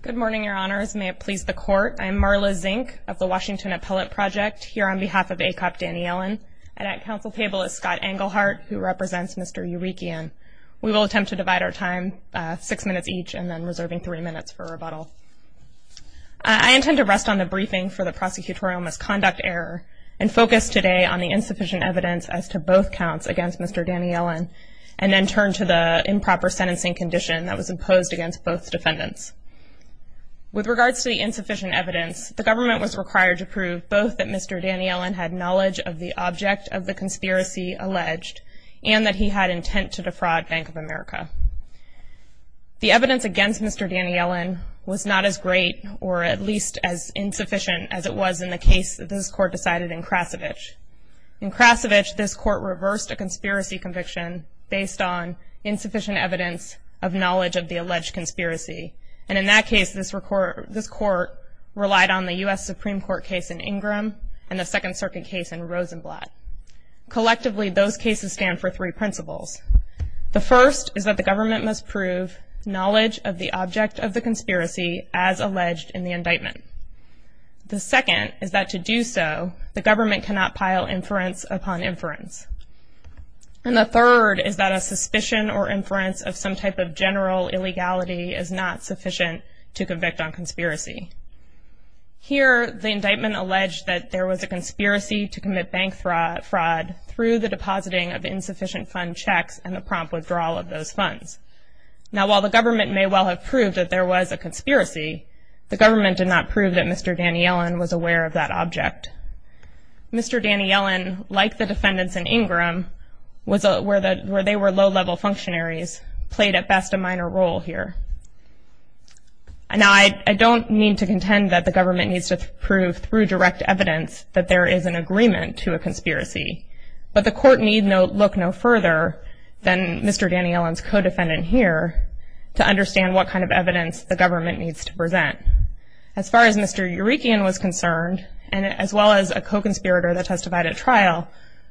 Good morning, your honors. May it please the court. I'm Marla Zink of the Washington Appellate Project here on behalf of Akop Daniyelyan, and at counsel table is Scott Englehart, who represents Mr. Eurekian. We will attempt to divide our time six minutes each and then reserving three minutes for rebuttal. I intend to rest on the briefing for the prosecutorial misconduct error and focus today on the insufficient evidence as to both counts against Mr. Daniyelyan and then turn to the improper sentencing condition that was imposed against both defendants. With regards to the insufficient evidence, the government was required to prove both that Mr. Daniyelyan had knowledge of the object of the conspiracy alleged and that he had intent to defraud Bank of America. The evidence against Mr. Daniyelyan was not as great or at least as insufficient as it was in the case that this court decided in Krasovich. In Krasovich, this court reversed a conspiracy conviction based on insufficient evidence of knowledge of the alleged conspiracy. And in that case, this court relied on the U.S. Supreme Court case in Ingram and the Second Circuit case in Rosenblatt. Collectively, those cases stand for three principles. The first is that the government must prove knowledge of the object of the conspiracy as alleged in the indictment. The second is that to do so, the government cannot pile inference upon inference. And the third is that a suspicion or inference of some type of general illegality is not sufficient to convict on conspiracy. Here, the indictment alleged that there was a conspiracy to commit bank fraud through the depositing of insufficient fund checks and the prompt withdrawal of those funds. Now, while the government may well have proved that there was a conspiracy, the government did not prove that Mr. Daniyelyan was aware of that object. Mr. Daniyelyan, like the defendants in Ingram, where they were low-level functionaries, played at best a minor role here. Now, I don't mean to contend that the government needs to prove through direct evidence that there is an agreement to a conspiracy. But the court need look no further than Mr. Daniyelyan's co-defendant here to understand what kind of evidence the government needs to present. As far as Mr. Eurekian was concerned, as well as a co-conspirator that testified at trial,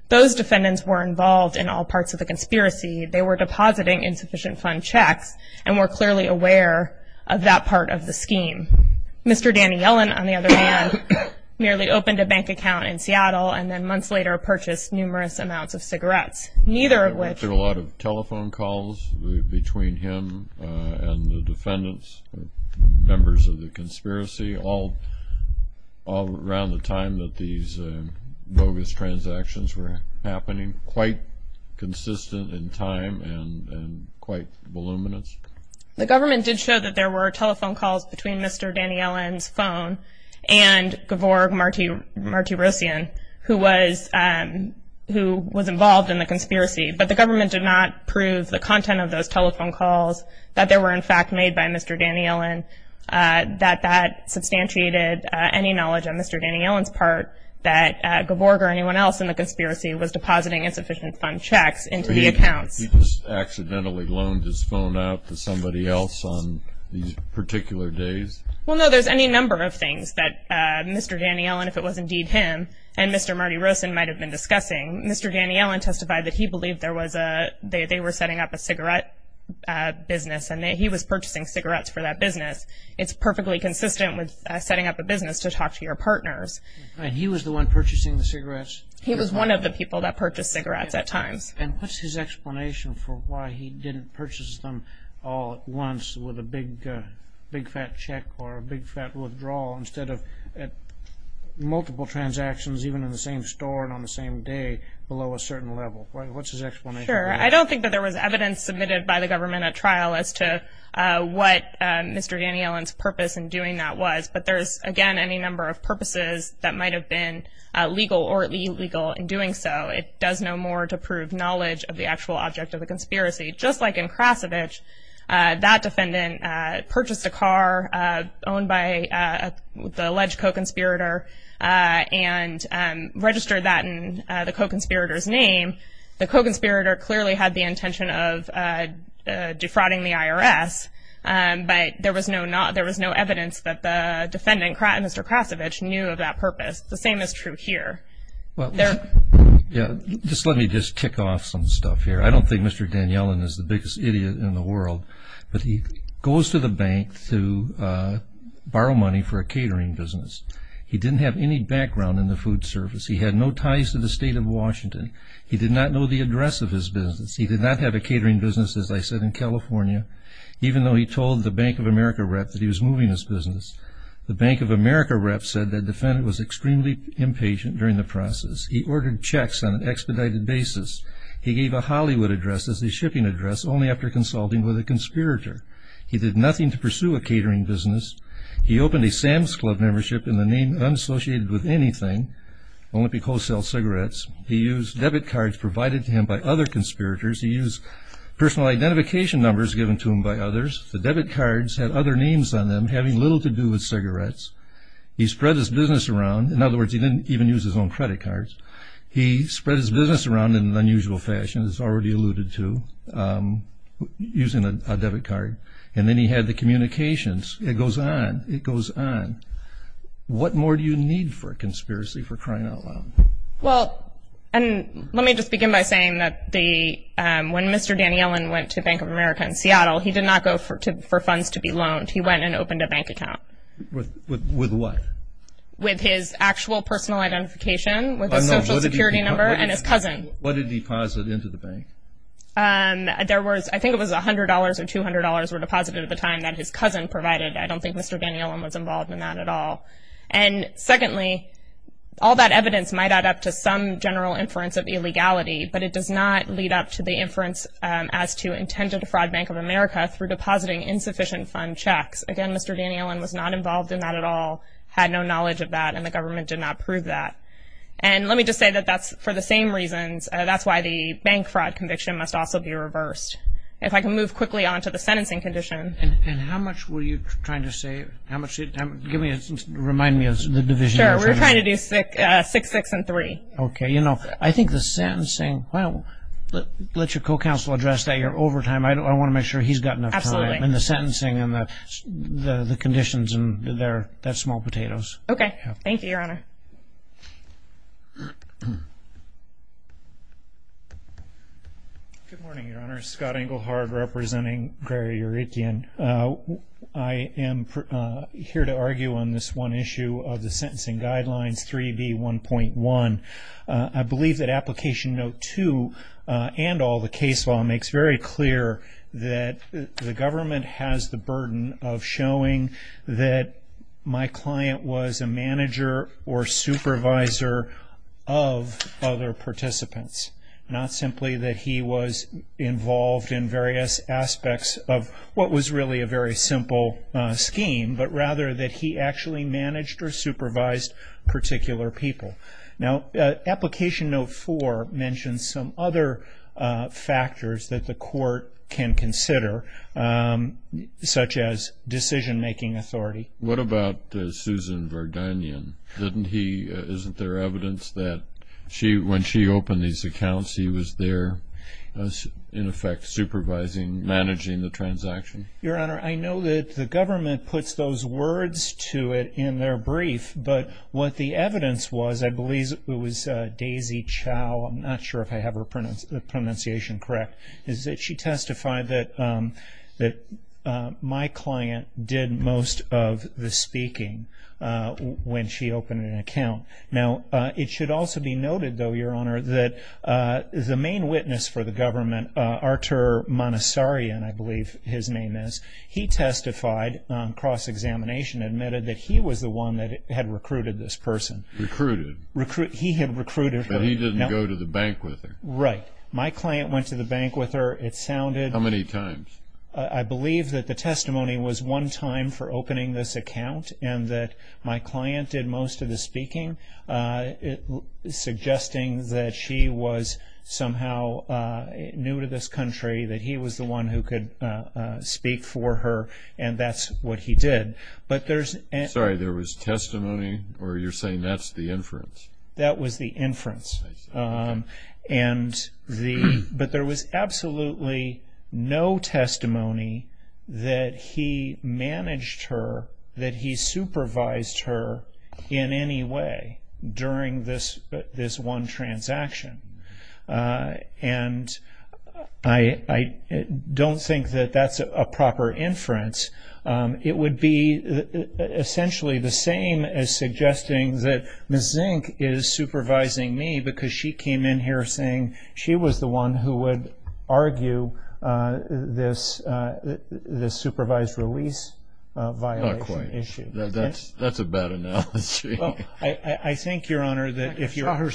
those defendants were involved in all parts of the conspiracy. They were depositing insufficient fund checks and were clearly aware of that part of the scheme. Mr. Daniyelyan, on the other hand, merely opened a bank account in Seattle and then months later purchased numerous amounts of cigarettes, neither of which… There were a lot of telephone calls between him and the defendants, members of the conspiracy, all around the time that these bogus transactions were happening, quite consistent in time and quite voluminous. The government did show that there were telephone calls between Mr. Daniyelyan's phone and Gevorg Martirosyan, who was involved in the conspiracy. But the government did not prove the content of those telephone calls, that they were in fact made by Mr. Daniyelyan, that that substantiated any knowledge on Mr. Daniyelyan's part that Gevorg or anyone else in the conspiracy was depositing insufficient fund checks into the accounts. He just accidentally loaned his phone out to somebody else on these particular days? Well, no, there's any number of things that Mr. Daniyelyan, if it was indeed him, and Mr. Martirosyan might have been discussing. Mr. Daniyelyan testified that he believed they were setting up a cigarette business and he was purchasing cigarettes for that business. It's perfectly consistent with setting up a business to talk to your partners. And he was the one purchasing the cigarettes? He was one of the people that purchased cigarettes at times. And what's his explanation for why he didn't purchase them all at once with a big fat check or a big fat withdrawal instead of at multiple transactions, even in the same store and on the same day, below a certain level? What's his explanation? Sure. I don't think that there was evidence submitted by the government at trial as to what Mr. Daniyelyan's purpose in doing that was. But there's, again, any number of purposes that might have been legal or illegal in doing so. It does no more to prove knowledge of the actual object of the conspiracy. Just like in Krasavich, that defendant purchased a car owned by the alleged co-conspirator and registered that in the co-conspirator's name. The co-conspirator clearly had the intention of defrauding the IRS, but there was no evidence that the defendant, Mr. Krasavich, knew of that purpose. The same is true here. Just let me just tick off some stuff here. I don't think Mr. Daniyelyan is the biggest idiot in the world, but he goes to the bank to borrow money for a catering business. He didn't have any background in the food service. He had no ties to the state of Washington. He did not know the address of his business. He did not have a catering business, as I said, in California, even though he told the Bank of America rep that he was moving his business. The Bank of America rep said the defendant was extremely impatient during the process. He ordered checks on an expedited basis. He gave a Hollywood address as a shipping address, only after consulting with a conspirator. He did nothing to pursue a catering business. He opened a Sam's Club membership in the name unassociated with anything, only because he sells cigarettes. He used debit cards provided to him by other conspirators. He used personal identification numbers given to him by others. The debit cards had other names on them, having little to do with cigarettes. He spread his business around. In other words, he didn't even use his own credit cards. He spread his business around in an unusual fashion, as already alluded to, using a debit card. And then he had the communications. It goes on. It goes on. What more do you need for a conspiracy for crying out loud? Well, let me just begin by saying that when Mr. Daniellen went to Bank of America in Seattle, he did not go for funds to be loaned. He went and opened a bank account. With what? With his actual personal identification, with his Social Security number, and his cousin. What did he deposit into the bank? I think it was $100 or $200 were deposited at the time that his cousin provided. I don't think Mr. Daniellen was involved in that at all. And secondly, all that evidence might add up to some general inference of illegality, but it does not lead up to the inference as to intended fraud Bank of America through depositing insufficient fund checks. Again, Mr. Daniellen was not involved in that at all. He had no knowledge of that, and the government did not prove that. And let me just say that that's for the same reasons. That's why the bank fraud conviction must also be reversed. If I can move quickly on to the sentencing condition. And how much were you trying to save? Remind me of the division. Sure. We were trying to do 6-6-3. You know, I think the sentencing, well, let your co-counsel address that. You're over time. I want to make sure he's got enough time. Absolutely. And the sentencing and the conditions, that's small potatoes. Okay. Thank you, Your Honor. Good morning, Your Honor. Scott Englehardt, representing Gray or Etienne. I am here to argue on this one issue of the sentencing guidelines, 3B1.1. I believe that Application Note 2 and all the case law makes very clear that the government has the burden of showing that my client was a manager or supervisor of other participants. Not simply that he was involved in various aspects of what was really a very simple scheme, but rather that he actually managed or supervised particular people. Now, Application Note 4 mentions some other factors that the court can consider, such as decision-making authority. What about Susan Verdunian? Isn't there evidence that when she opened these accounts, he was there, in effect, supervising, managing the transaction? Your Honor, I know that the government puts those words to it in their brief, but what the evidence was, I believe it was Daisy Chow, I'm not sure if I have her pronunciation correct, is that she testified that my client did most of the speaking when she opened an account. Now, it should also be noted, though, Your Honor, that the main witness for the government, Artur Manasarian, I believe his name is, he testified on cross-examination, admitted that he was the one that had recruited this person. Recruited? He had recruited her. But he didn't go to the bank with her. Right. My client went to the bank with her. It sounded... How many times? I believe that the testimony was one time for opening this account and that my client did most of the speaking, suggesting that she was somehow new to this country, that he was the one who could speak for her, and that's what he did. Sorry, there was testimony, or you're saying that's the inference? That was the inference. I see. But there was absolutely no testimony that he managed her, that he supervised her in any way during this one transaction. And I don't think that that's a proper inference. It would be essentially the same as suggesting that Ms. Zink is supervising me because she came in here saying she was the one who would argue this supervised release violation issue. Not quite. That's a bad analogy. Well, I think, Your Honor, that if you're...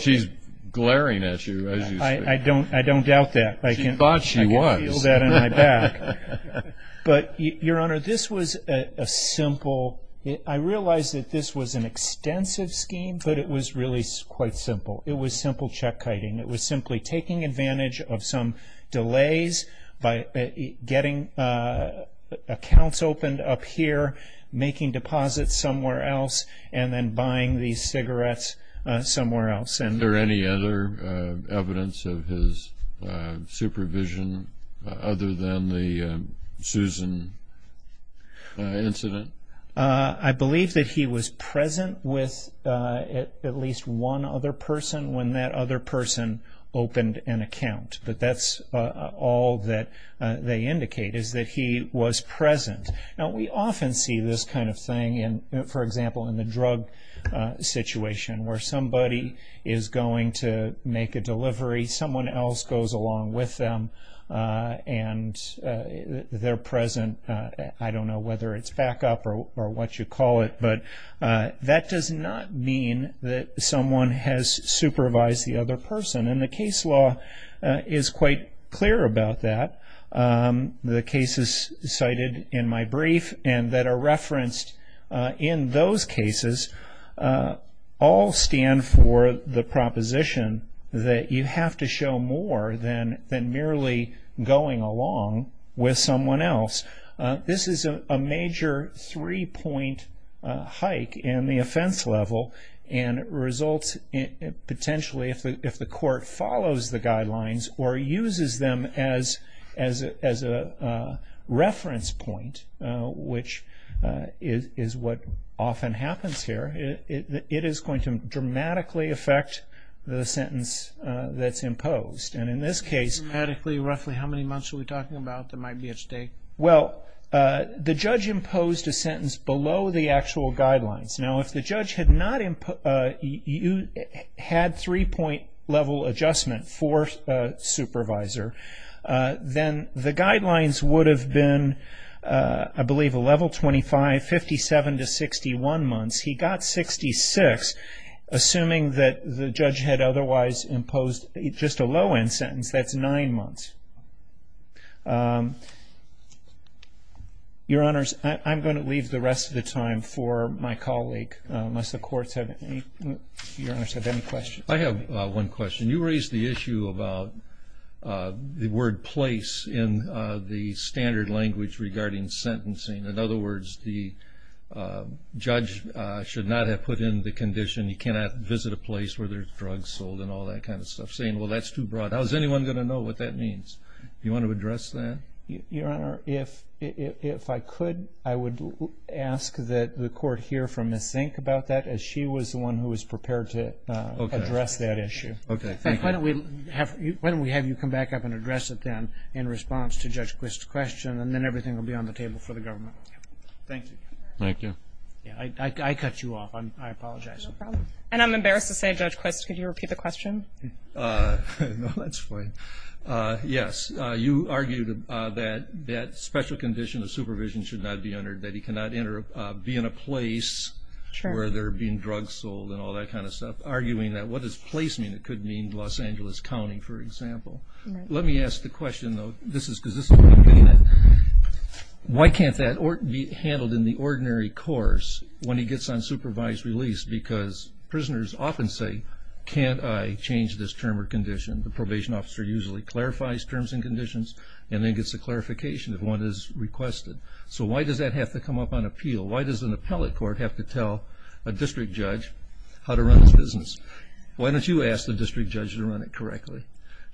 She's glaring at you as you speak. I don't doubt that. She thought she was. I can feel that in my back. But, Your Honor, this was a simple... I realize that this was an extensive scheme, but it was really quite simple. It was simple check-kiting. It was simply taking advantage of some delays by getting accounts opened up here, making deposits somewhere else, and then buying these cigarettes somewhere else. Is there any other evidence of his supervision other than the Susan incident? I believe that he was present with at least one other person when that other person opened an account. But that's all that they indicate is that he was present. Now, we often see this kind of thing, for example, in the drug situation where somebody is going to make a delivery, someone else goes along with them, and they're present. I don't know whether it's backup or what you call it, but that does not mean that someone has supervised the other person. And the case law is quite clear about that. The cases cited in my brief and that are referenced in those cases all stand for the proposition that you have to show more than merely going along with someone else. This is a major three-point hike in the offense level, and it results, potentially, if the court follows the guidelines or uses them as a reference point, which is what often happens here, it is going to dramatically affect the sentence that's imposed. And in this case... Dramatically, roughly how many months are we talking about that might be at stake? Well, the judge imposed a sentence below the actual guidelines. Now, if the judge had three-point level adjustment for a supervisor, then the guidelines would have been, I believe, a level 25, 57 to 61 months. He got 66, assuming that the judge had otherwise imposed just a low-end sentence. That's nine months. Your Honors, I'm going to leave the rest of the time for my colleague, unless the courts have any questions. I have one question. You raised the issue about the word place in the standard language regarding sentencing. In other words, the judge should not have put in the condition, you cannot visit a place where there's drugs sold and all that kind of stuff, saying, well, that's too broad. How is anyone going to know what that means? Do you want to address that? Your Honor, if I could, I would ask that the court hear from Ms. Zink about that, as she was the one who was prepared to address that issue. Okay, thank you. Why don't we have you come back up and address it then, in response to Judge Quist's question, and then everything will be on the table for the government. Thank you. Thank you. I cut you off. I apologize. No problem. And I'm embarrassed to say, Judge Quist, could you repeat the question? No, that's fine. Yes, you argued that that special condition of supervision should not be entered, that he cannot be in a place where there are being drugs sold and all that kind of stuff, arguing that what does place mean? It could mean Los Angeles County, for example. Let me ask the question, though, because this is what I'm getting at. Why can't that be handled in the ordinary course when he gets on supervised release? Because prisoners often say, can't I change this term or condition? The probation officer usually clarifies terms and conditions and then gets a clarification if one is requested. So why does that have to come up on appeal? Why does an appellate court have to tell a district judge how to run this business? Why don't you ask the district judge to run it correctly?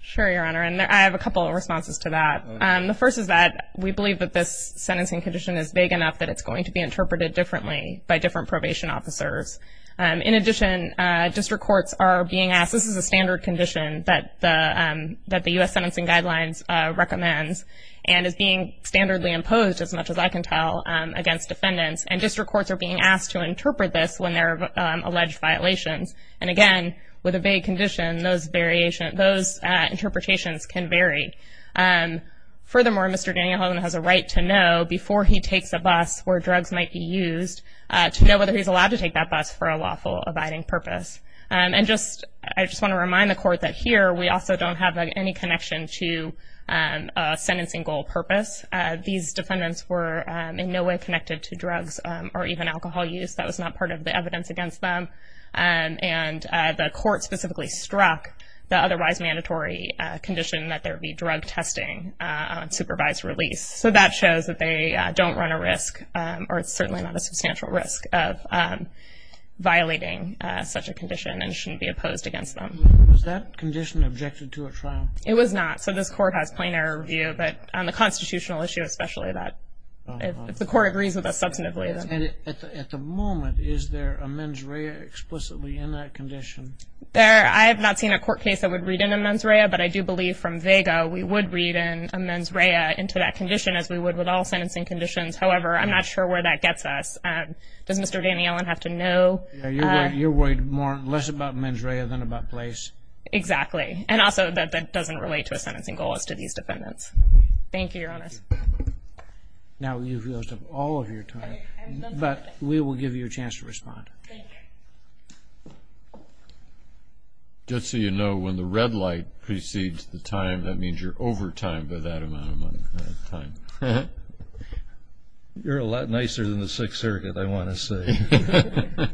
Sure, Your Honor, and I have a couple of responses to that. The first is that we believe that this sentencing condition is big enough that it's going to be interpreted differently by different probation officers. In addition, district courts are being asked, this is a standard condition that the U.S. Sentencing Guidelines recommends and is being standardly imposed, as much as I can tell, against defendants, and district courts are being asked to interpret this when there are alleged violations. And again, with a vague condition, those interpretations can vary. Furthermore, Mr. Daniels has a right to know before he takes a bus where drugs might be used to know whether he's allowed to take that bus for a lawful abiding purpose. And I just want to remind the court that here we also don't have any connection to a sentencing goal purpose. These defendants were in no way connected to drugs or even alcohol use. That was not part of the evidence against them. And the court specifically struck the otherwise mandatory condition that there be drug testing on supervised release. So that shows that they don't run a risk, or it's certainly not a substantial risk, of violating such a condition and shouldn't be opposed against them. Was that condition objected to at trial? It was not. So this court has plain error review, but on the constitutional issue especially, if the court agrees with us substantively. And at the moment, is there a mens rea explicitly in that condition? I have not seen a court case that would read in a mens rea, but I do believe from vega we would read a mens rea into that condition as we would with all sentencing conditions. However, I'm not sure where that gets us. Does Mr. Daniels have to know? You're worried less about mens rea than about place. Exactly. And also that that doesn't relate to a sentencing goal as to these defendants. Thank you, Your Honor. Thank you. Now you've used up all of your time, but we will give you a chance to respond. Thank you. Just so you know, when the red light precedes the time, that means you're over time by that amount of time. You're a lot nicer than the Sixth Circuit, I want to say.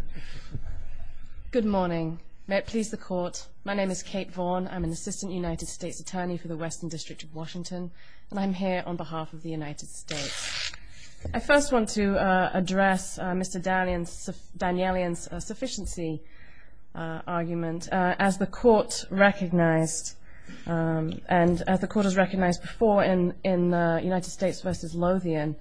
Good morning. May it please the Court, my name is Kate Vaughn. I'm an Assistant United States Attorney for the Western District of Washington, and I'm here on behalf of the United States. I first want to address Mr. Danielian's sufficiency argument. As the Court has recognized before in United States v. Lothian,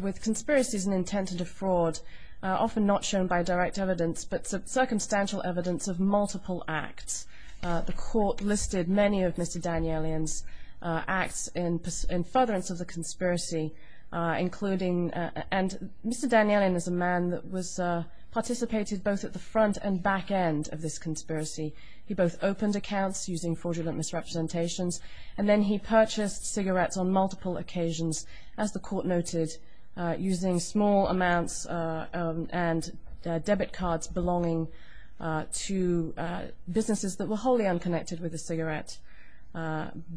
with conspiracies and intent to defraud often not shown by direct evidence but circumstantial evidence of multiple acts, the Court listed many of Mr. Danielian's acts in furtherance of the conspiracy, and Mr. Danielian is a man that participated both at the front and back end of this conspiracy. He both opened accounts using fraudulent misrepresentations, and then he purchased cigarettes on multiple occasions, as the Court noted, using small amounts and debit cards belonging to businesses that were wholly unconnected with the cigarette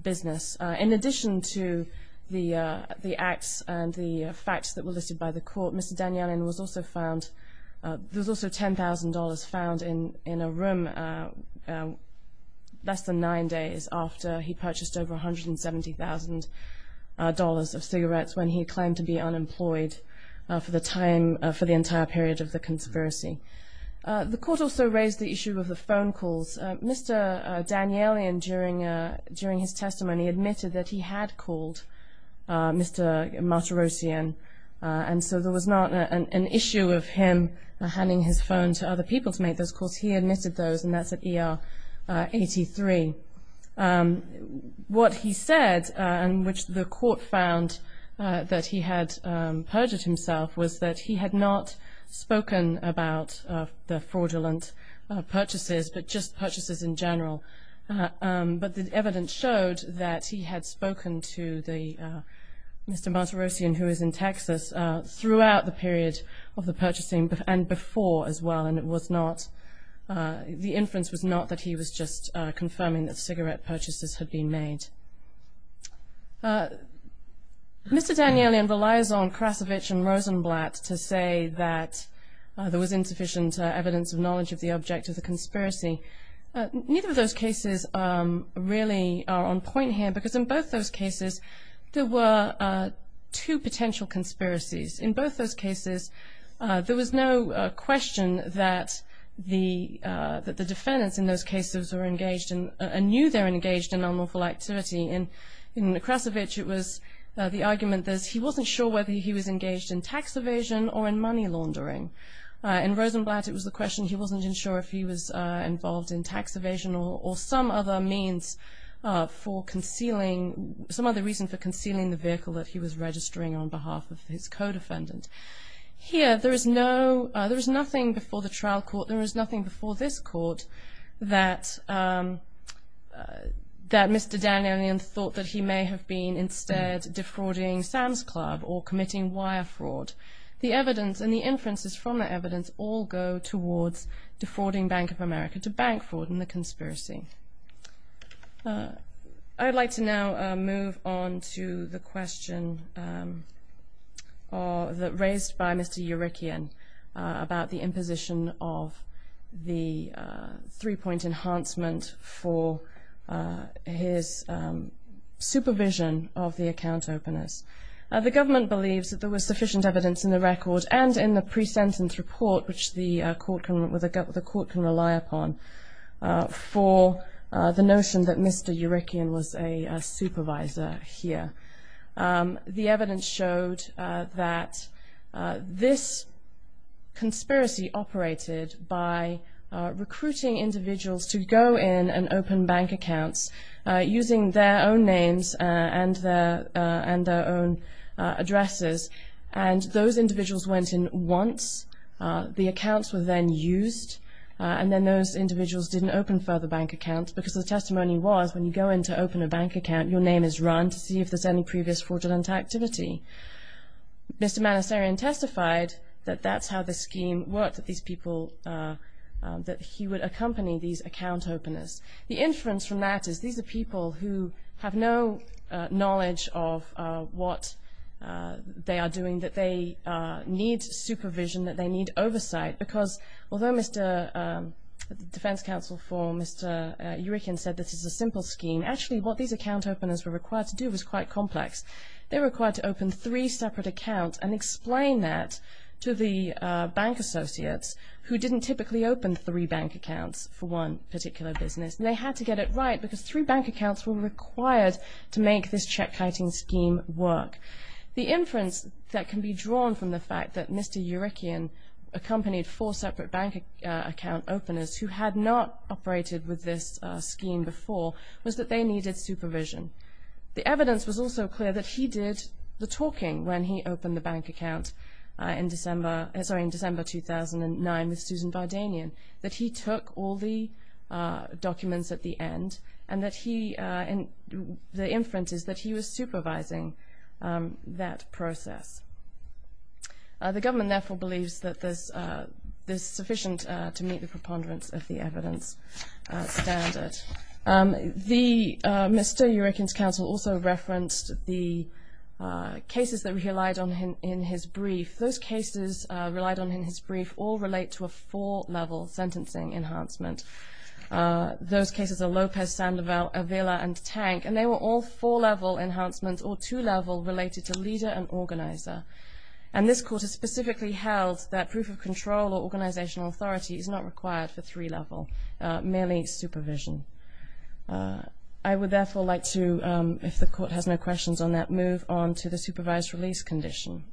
business. In addition to the acts and the facts that were listed by the Court, Mr. Danielian was also found, there was also $10,000 found in a room less than nine days after he purchased over $170,000 of cigarettes when he claimed to be unemployed for the entire period of the conspiracy. The Court also raised the issue of the phone calls. Mr. Danielian, during his testimony, admitted that he had called Mr. Martirosyan, and so there was not an issue of him handing his phone to other people to make those calls. He admitted those, and that's at ER 83. What he said, and which the Court found that he had perjured himself, was that he had not spoken about the fraudulent purchases, but just purchases in general. But the evidence showed that he had spoken to Mr. Martirosyan, who is in Texas, throughout the period of the purchasing and before as well, and the inference was not that he was just confirming that cigarette purchases had been made. Mr. Danielian relies on Krasavich and Rosenblatt to say that there was insufficient evidence of knowledge of the object of the conspiracy. Neither of those cases really are on point here, because in both those cases, there were two potential conspiracies. In both those cases, there was no question that the defendants in those cases were engaged and knew they were engaged in unlawful activity. In Krasavich, it was the argument that he wasn't sure whether he was engaged in tax evasion or in money laundering. In Rosenblatt, it was the question he wasn't even sure if he was involved in tax evasion or some other means for concealing, some other reason for concealing the vehicle that he was registering on behalf of his co-defendant. Here, there is nothing before the trial court, there is nothing before this court, that Mr. Danielian thought that he may have been instead defrauding Sam's Club or committing wire fraud. The evidence and the inferences from the evidence all go towards defrauding Bank of America to bank fraud in the conspiracy. I'd like to now move on to the question raised by Mr. Urykian about the imposition of the three-point enhancement for his supervision of the account openers. The government believes that there was sufficient evidence in the record and in the pre-sentence report, which the court can rely upon, for the notion that Mr. Urykian was a supervisor here. The evidence showed that this conspiracy operated by recruiting individuals to go in and open bank accounts using their own names and their own addresses, and those individuals went in once. The accounts were then used, and then those individuals didn't open further bank accounts because the testimony was, when you go in to open a bank account, your name is run to see if there's any previous fraudulent activity. Mr. Manasarian testified that that's how the scheme worked, that he would accompany these account openers. The inference from that is these are people who have no knowledge of what they are doing, that they need supervision, that they need oversight, because although the defense counsel for Mr. Urykian said this is a simple scheme, actually what these account openers were required to do was quite complex. They were required to open three separate accounts and explain that to the bank associates who didn't typically open three bank accounts for one particular business, and they had to get it right because three bank accounts were required to make this check-kiting scheme work. The inference that can be drawn from the fact that Mr. Urykian accompanied four separate bank account openers who had not operated with this scheme before was that they needed supervision. The evidence was also clear that he did the talking when he opened the bank account in December 2009 with Susan Vardanyan, that he took all the documents at the end, and the inference is that he was supervising that process. The government therefore believes that this is sufficient to meet the preponderance of the evidence standard. Mr. Urykian's counsel also referenced the cases that relied on him in his brief. Those cases relied on him in his brief all relate to a four-level sentencing enhancement. Those cases are Lopez, Sandoval, Avila, and Tank, and they were all four-level enhancements or two-level related to leader and organizer, and this court has specifically held that proof of control or organizational authority is not required for three-level, merely supervision. I would therefore like to, if the court has no questions on that, move on to the supervised release condition.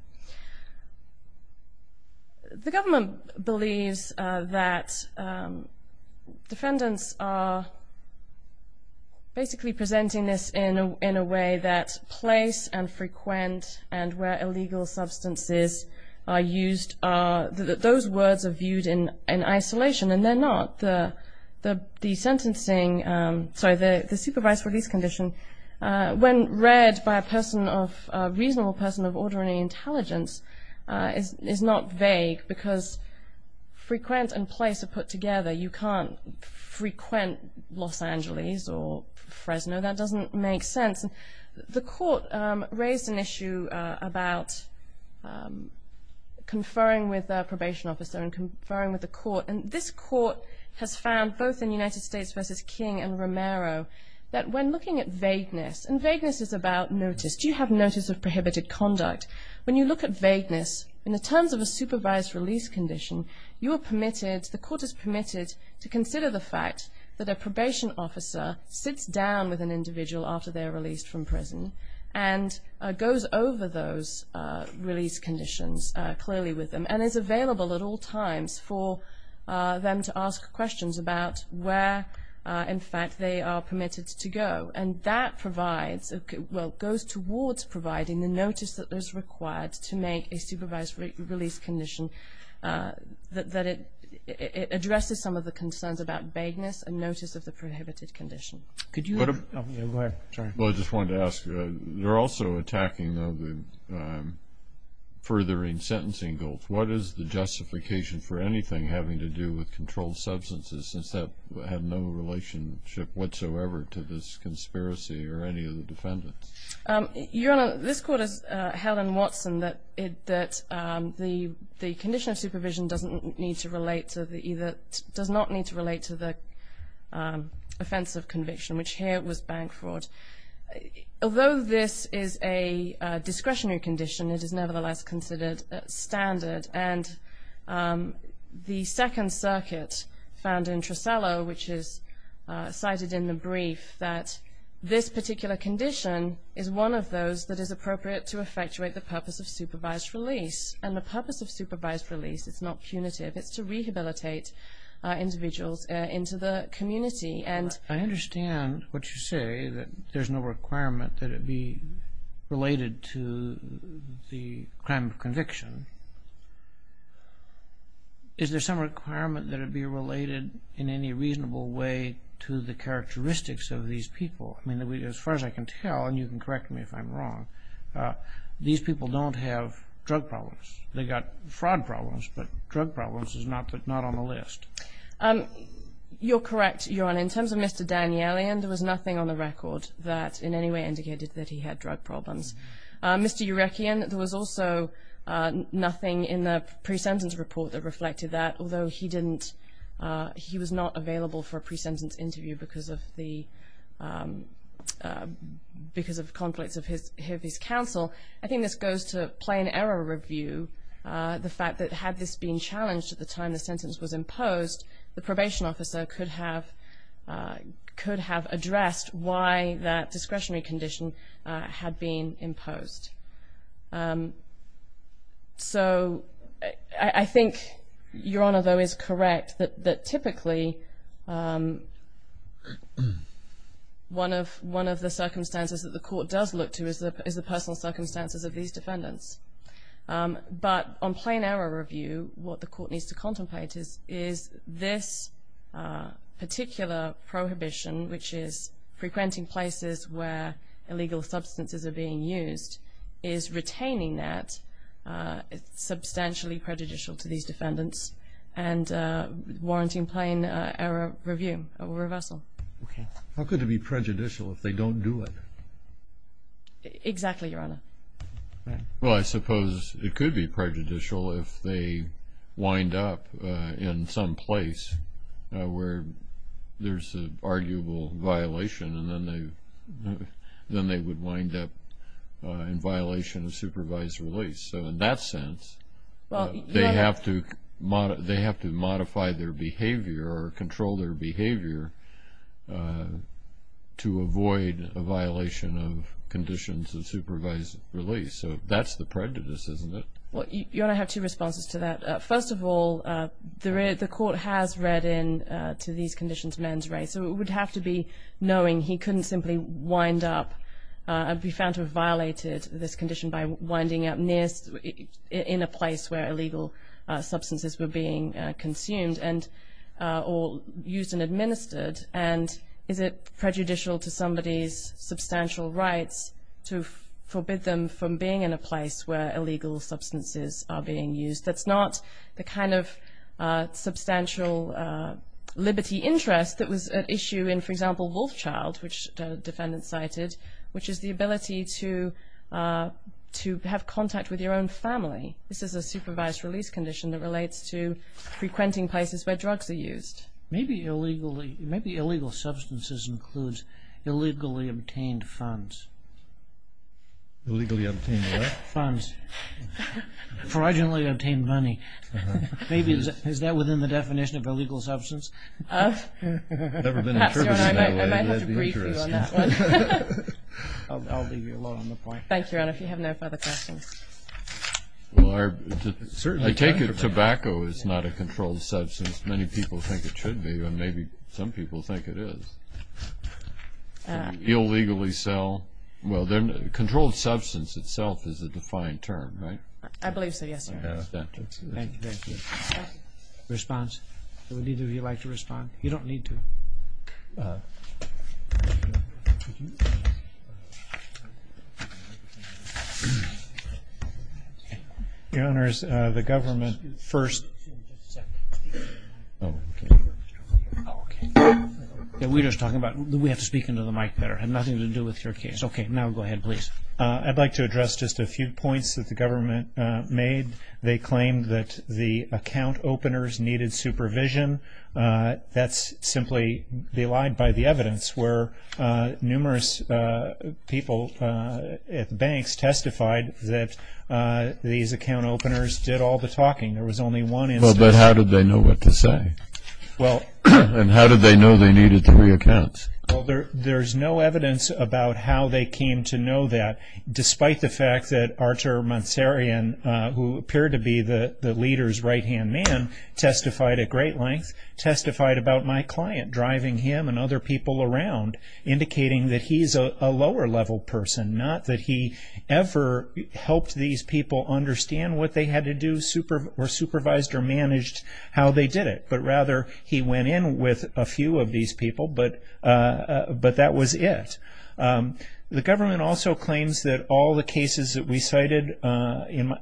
The government believes that defendants are basically presenting this in a way that place and frequent and where illegal substances are used, those words are viewed in isolation, and they're not. The sentencing, sorry, the supervised release condition, when read by a reasonable person of ordinary intelligence is not vague because frequent and place are put together. You can't frequent Los Angeles or Fresno. That doesn't make sense. The court raised an issue about conferring with a probation officer and conferring with the court, and this court has found, both in United States v. King and Romero, that when looking at vagueness, and vagueness is about notice. Do you have notice of prohibited conduct? When you look at vagueness, in the terms of a supervised release condition, the court is permitted to consider the fact that a probation officer sits down with an individual after they're released from prison and goes over those release conditions clearly with them and is available at all times for them to ask questions about where, in fact, they are permitted to go. And that provides, well, goes towards providing the notice that is required to make a supervised release condition that it addresses some of the concerns about vagueness and notice of the prohibited condition. Go ahead. Sorry. Well, I just wanted to ask, they're also attacking the furthering sentencing goals. What is the justification for anything having to do with controlled substances since that had no relationship whatsoever to this conspiracy or any of the defendants? Your Honor, this court has held in Watson that the condition of supervision doesn't need to relate to the either which here was bank fraud. Although this is a discretionary condition, it is nevertheless considered standard. And the Second Circuit found in Tresello, which is cited in the brief, that this particular condition is one of those that is appropriate to effectuate the purpose of supervised release. And the purpose of supervised release is not punitive. It's to rehabilitate individuals into the community. I understand what you say, that there's no requirement that it be related to the crime of conviction. Is there some requirement that it be related in any reasonable way to the characteristics of these people? I mean, as far as I can tell, and you can correct me if I'm wrong, these people don't have drug problems. They've got fraud problems, but drug problems is not on the list. You're correct, Your Honor. In terms of Mr. Danielian, there was nothing on the record that in any way indicated that he had drug problems. Mr. Eurekian, there was also nothing in the pre-sentence report that reflected that. Although he was not available for a pre-sentence interview because of conflicts of his counsel, I think this goes to plain error review, the fact that had this been challenged at the time the sentence was imposed, the probation officer could have addressed why that discretionary condition had been imposed. So I think Your Honor, though, is correct that typically one of the circumstances that the court does look to is the personal circumstances of these defendants. But on plain error review, what the court needs to contemplate is this particular prohibition, which is frequenting places where illegal substances are being used, is retaining that substantially prejudicial to these defendants and warranting plain error review or reversal. How could it be prejudicial if they don't do it? Exactly, Your Honor. Well, I suppose it could be prejudicial if they wind up in some place where there's an arguable violation and then they would wind up in violation of supervised release. So in that sense, they have to modify their behavior or control their behavior to avoid a violation of conditions of supervised release. So that's the prejudice, isn't it? Well, Your Honor, I have two responses to that. First of all, the court has read into these conditions men's rights, so it would have to be knowing he couldn't simply wind up and be found to have violated this condition by winding up in a place where illegal substances were being consumed or used and administered. And is it prejudicial to somebody's substantial rights to forbid them from being in a place where illegal substances are being used? That's not the kind of substantial liberty interest that was at issue in, for example, Wolfchild, which the defendant cited, which is the ability to have contact with your own family. This is a supervised release condition that relates to frequenting places where drugs are used. Maybe illegal substances includes illegally obtained funds. Illegally obtained what? Funds. Fraudulently obtained money. Maybe is that within the definition of illegal substance? Perhaps, Your Honor, I might have to brief you on that one. I'll leave you alone on the point. Thank you, Your Honor. If you have no further questions. Well, I take it tobacco is not a controlled substance. Many people think it should be, and maybe some people think it is. Illegally sell, well, controlled substance itself is a defined term, right? I believe so, yes, Your Honor. Thank you. Response? Would either of you like to respond? You don't need to. Your Honors, the government first. We're just talking about, we have to speak into the mic better. It had nothing to do with your case. Okay, now go ahead, please. I'd like to address just a few points that the government made. They claimed that the account openers needed supervision. That's simply belied by the evidence where numerous people at banks testified that these account openers did all the talking. There was only one instance. Well, but how did they know what to say? And how did they know they needed to re-account? Well, there's no evidence about how they came to know that, despite the fact that Artur Mansaryan, who appeared to be the leader's right-hand man, testified at great length, testified about my client, driving him and other people around, indicating that he's a lower-level person, not that he ever helped these people understand what they had to do, or supervised or managed how they did it, but rather he went in with a few of these people, but that was it. The government also claims that all the cases that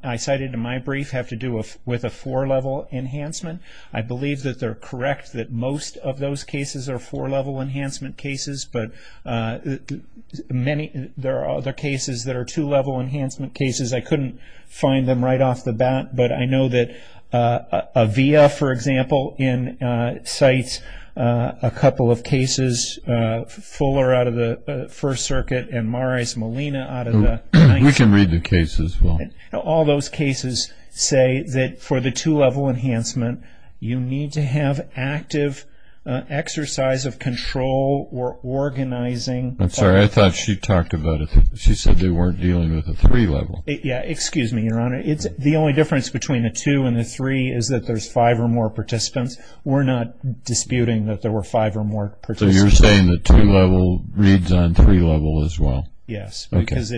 I cited in my brief have to do with a four-level enhancement. I believe that they're correct that most of those cases are four-level enhancement cases, but there are other cases that are two-level enhancement cases. I couldn't find them right off the bat, but I know that Avia, for example, cites a couple of cases, Fuller out of the First Circuit and Marais Molina out of the Ninth Circuit. We can read the cases as well. All those cases say that for the two-level enhancement, you need to have active exercise of control or organizing. I'm sorry, I thought she talked about it. She said they weren't dealing with a three-level. Excuse me, Your Honor. The only difference between the two and the three is that there's five or more participants. We're not disputing that there were five or more participants. So you're saying that two-level reads on three-level as well? Yes, because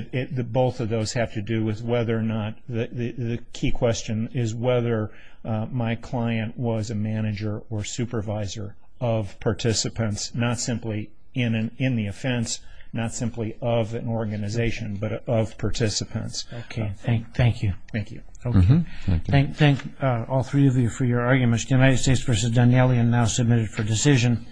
both of those have to do with whether or not the key question is whether my client was a manager or supervisor of participants, not simply in the offense, not simply of an organization, but of participants. Okay, thank you. Thank you. Thank all three of you for your arguments. The United States v. Danieli are now submitted for decision.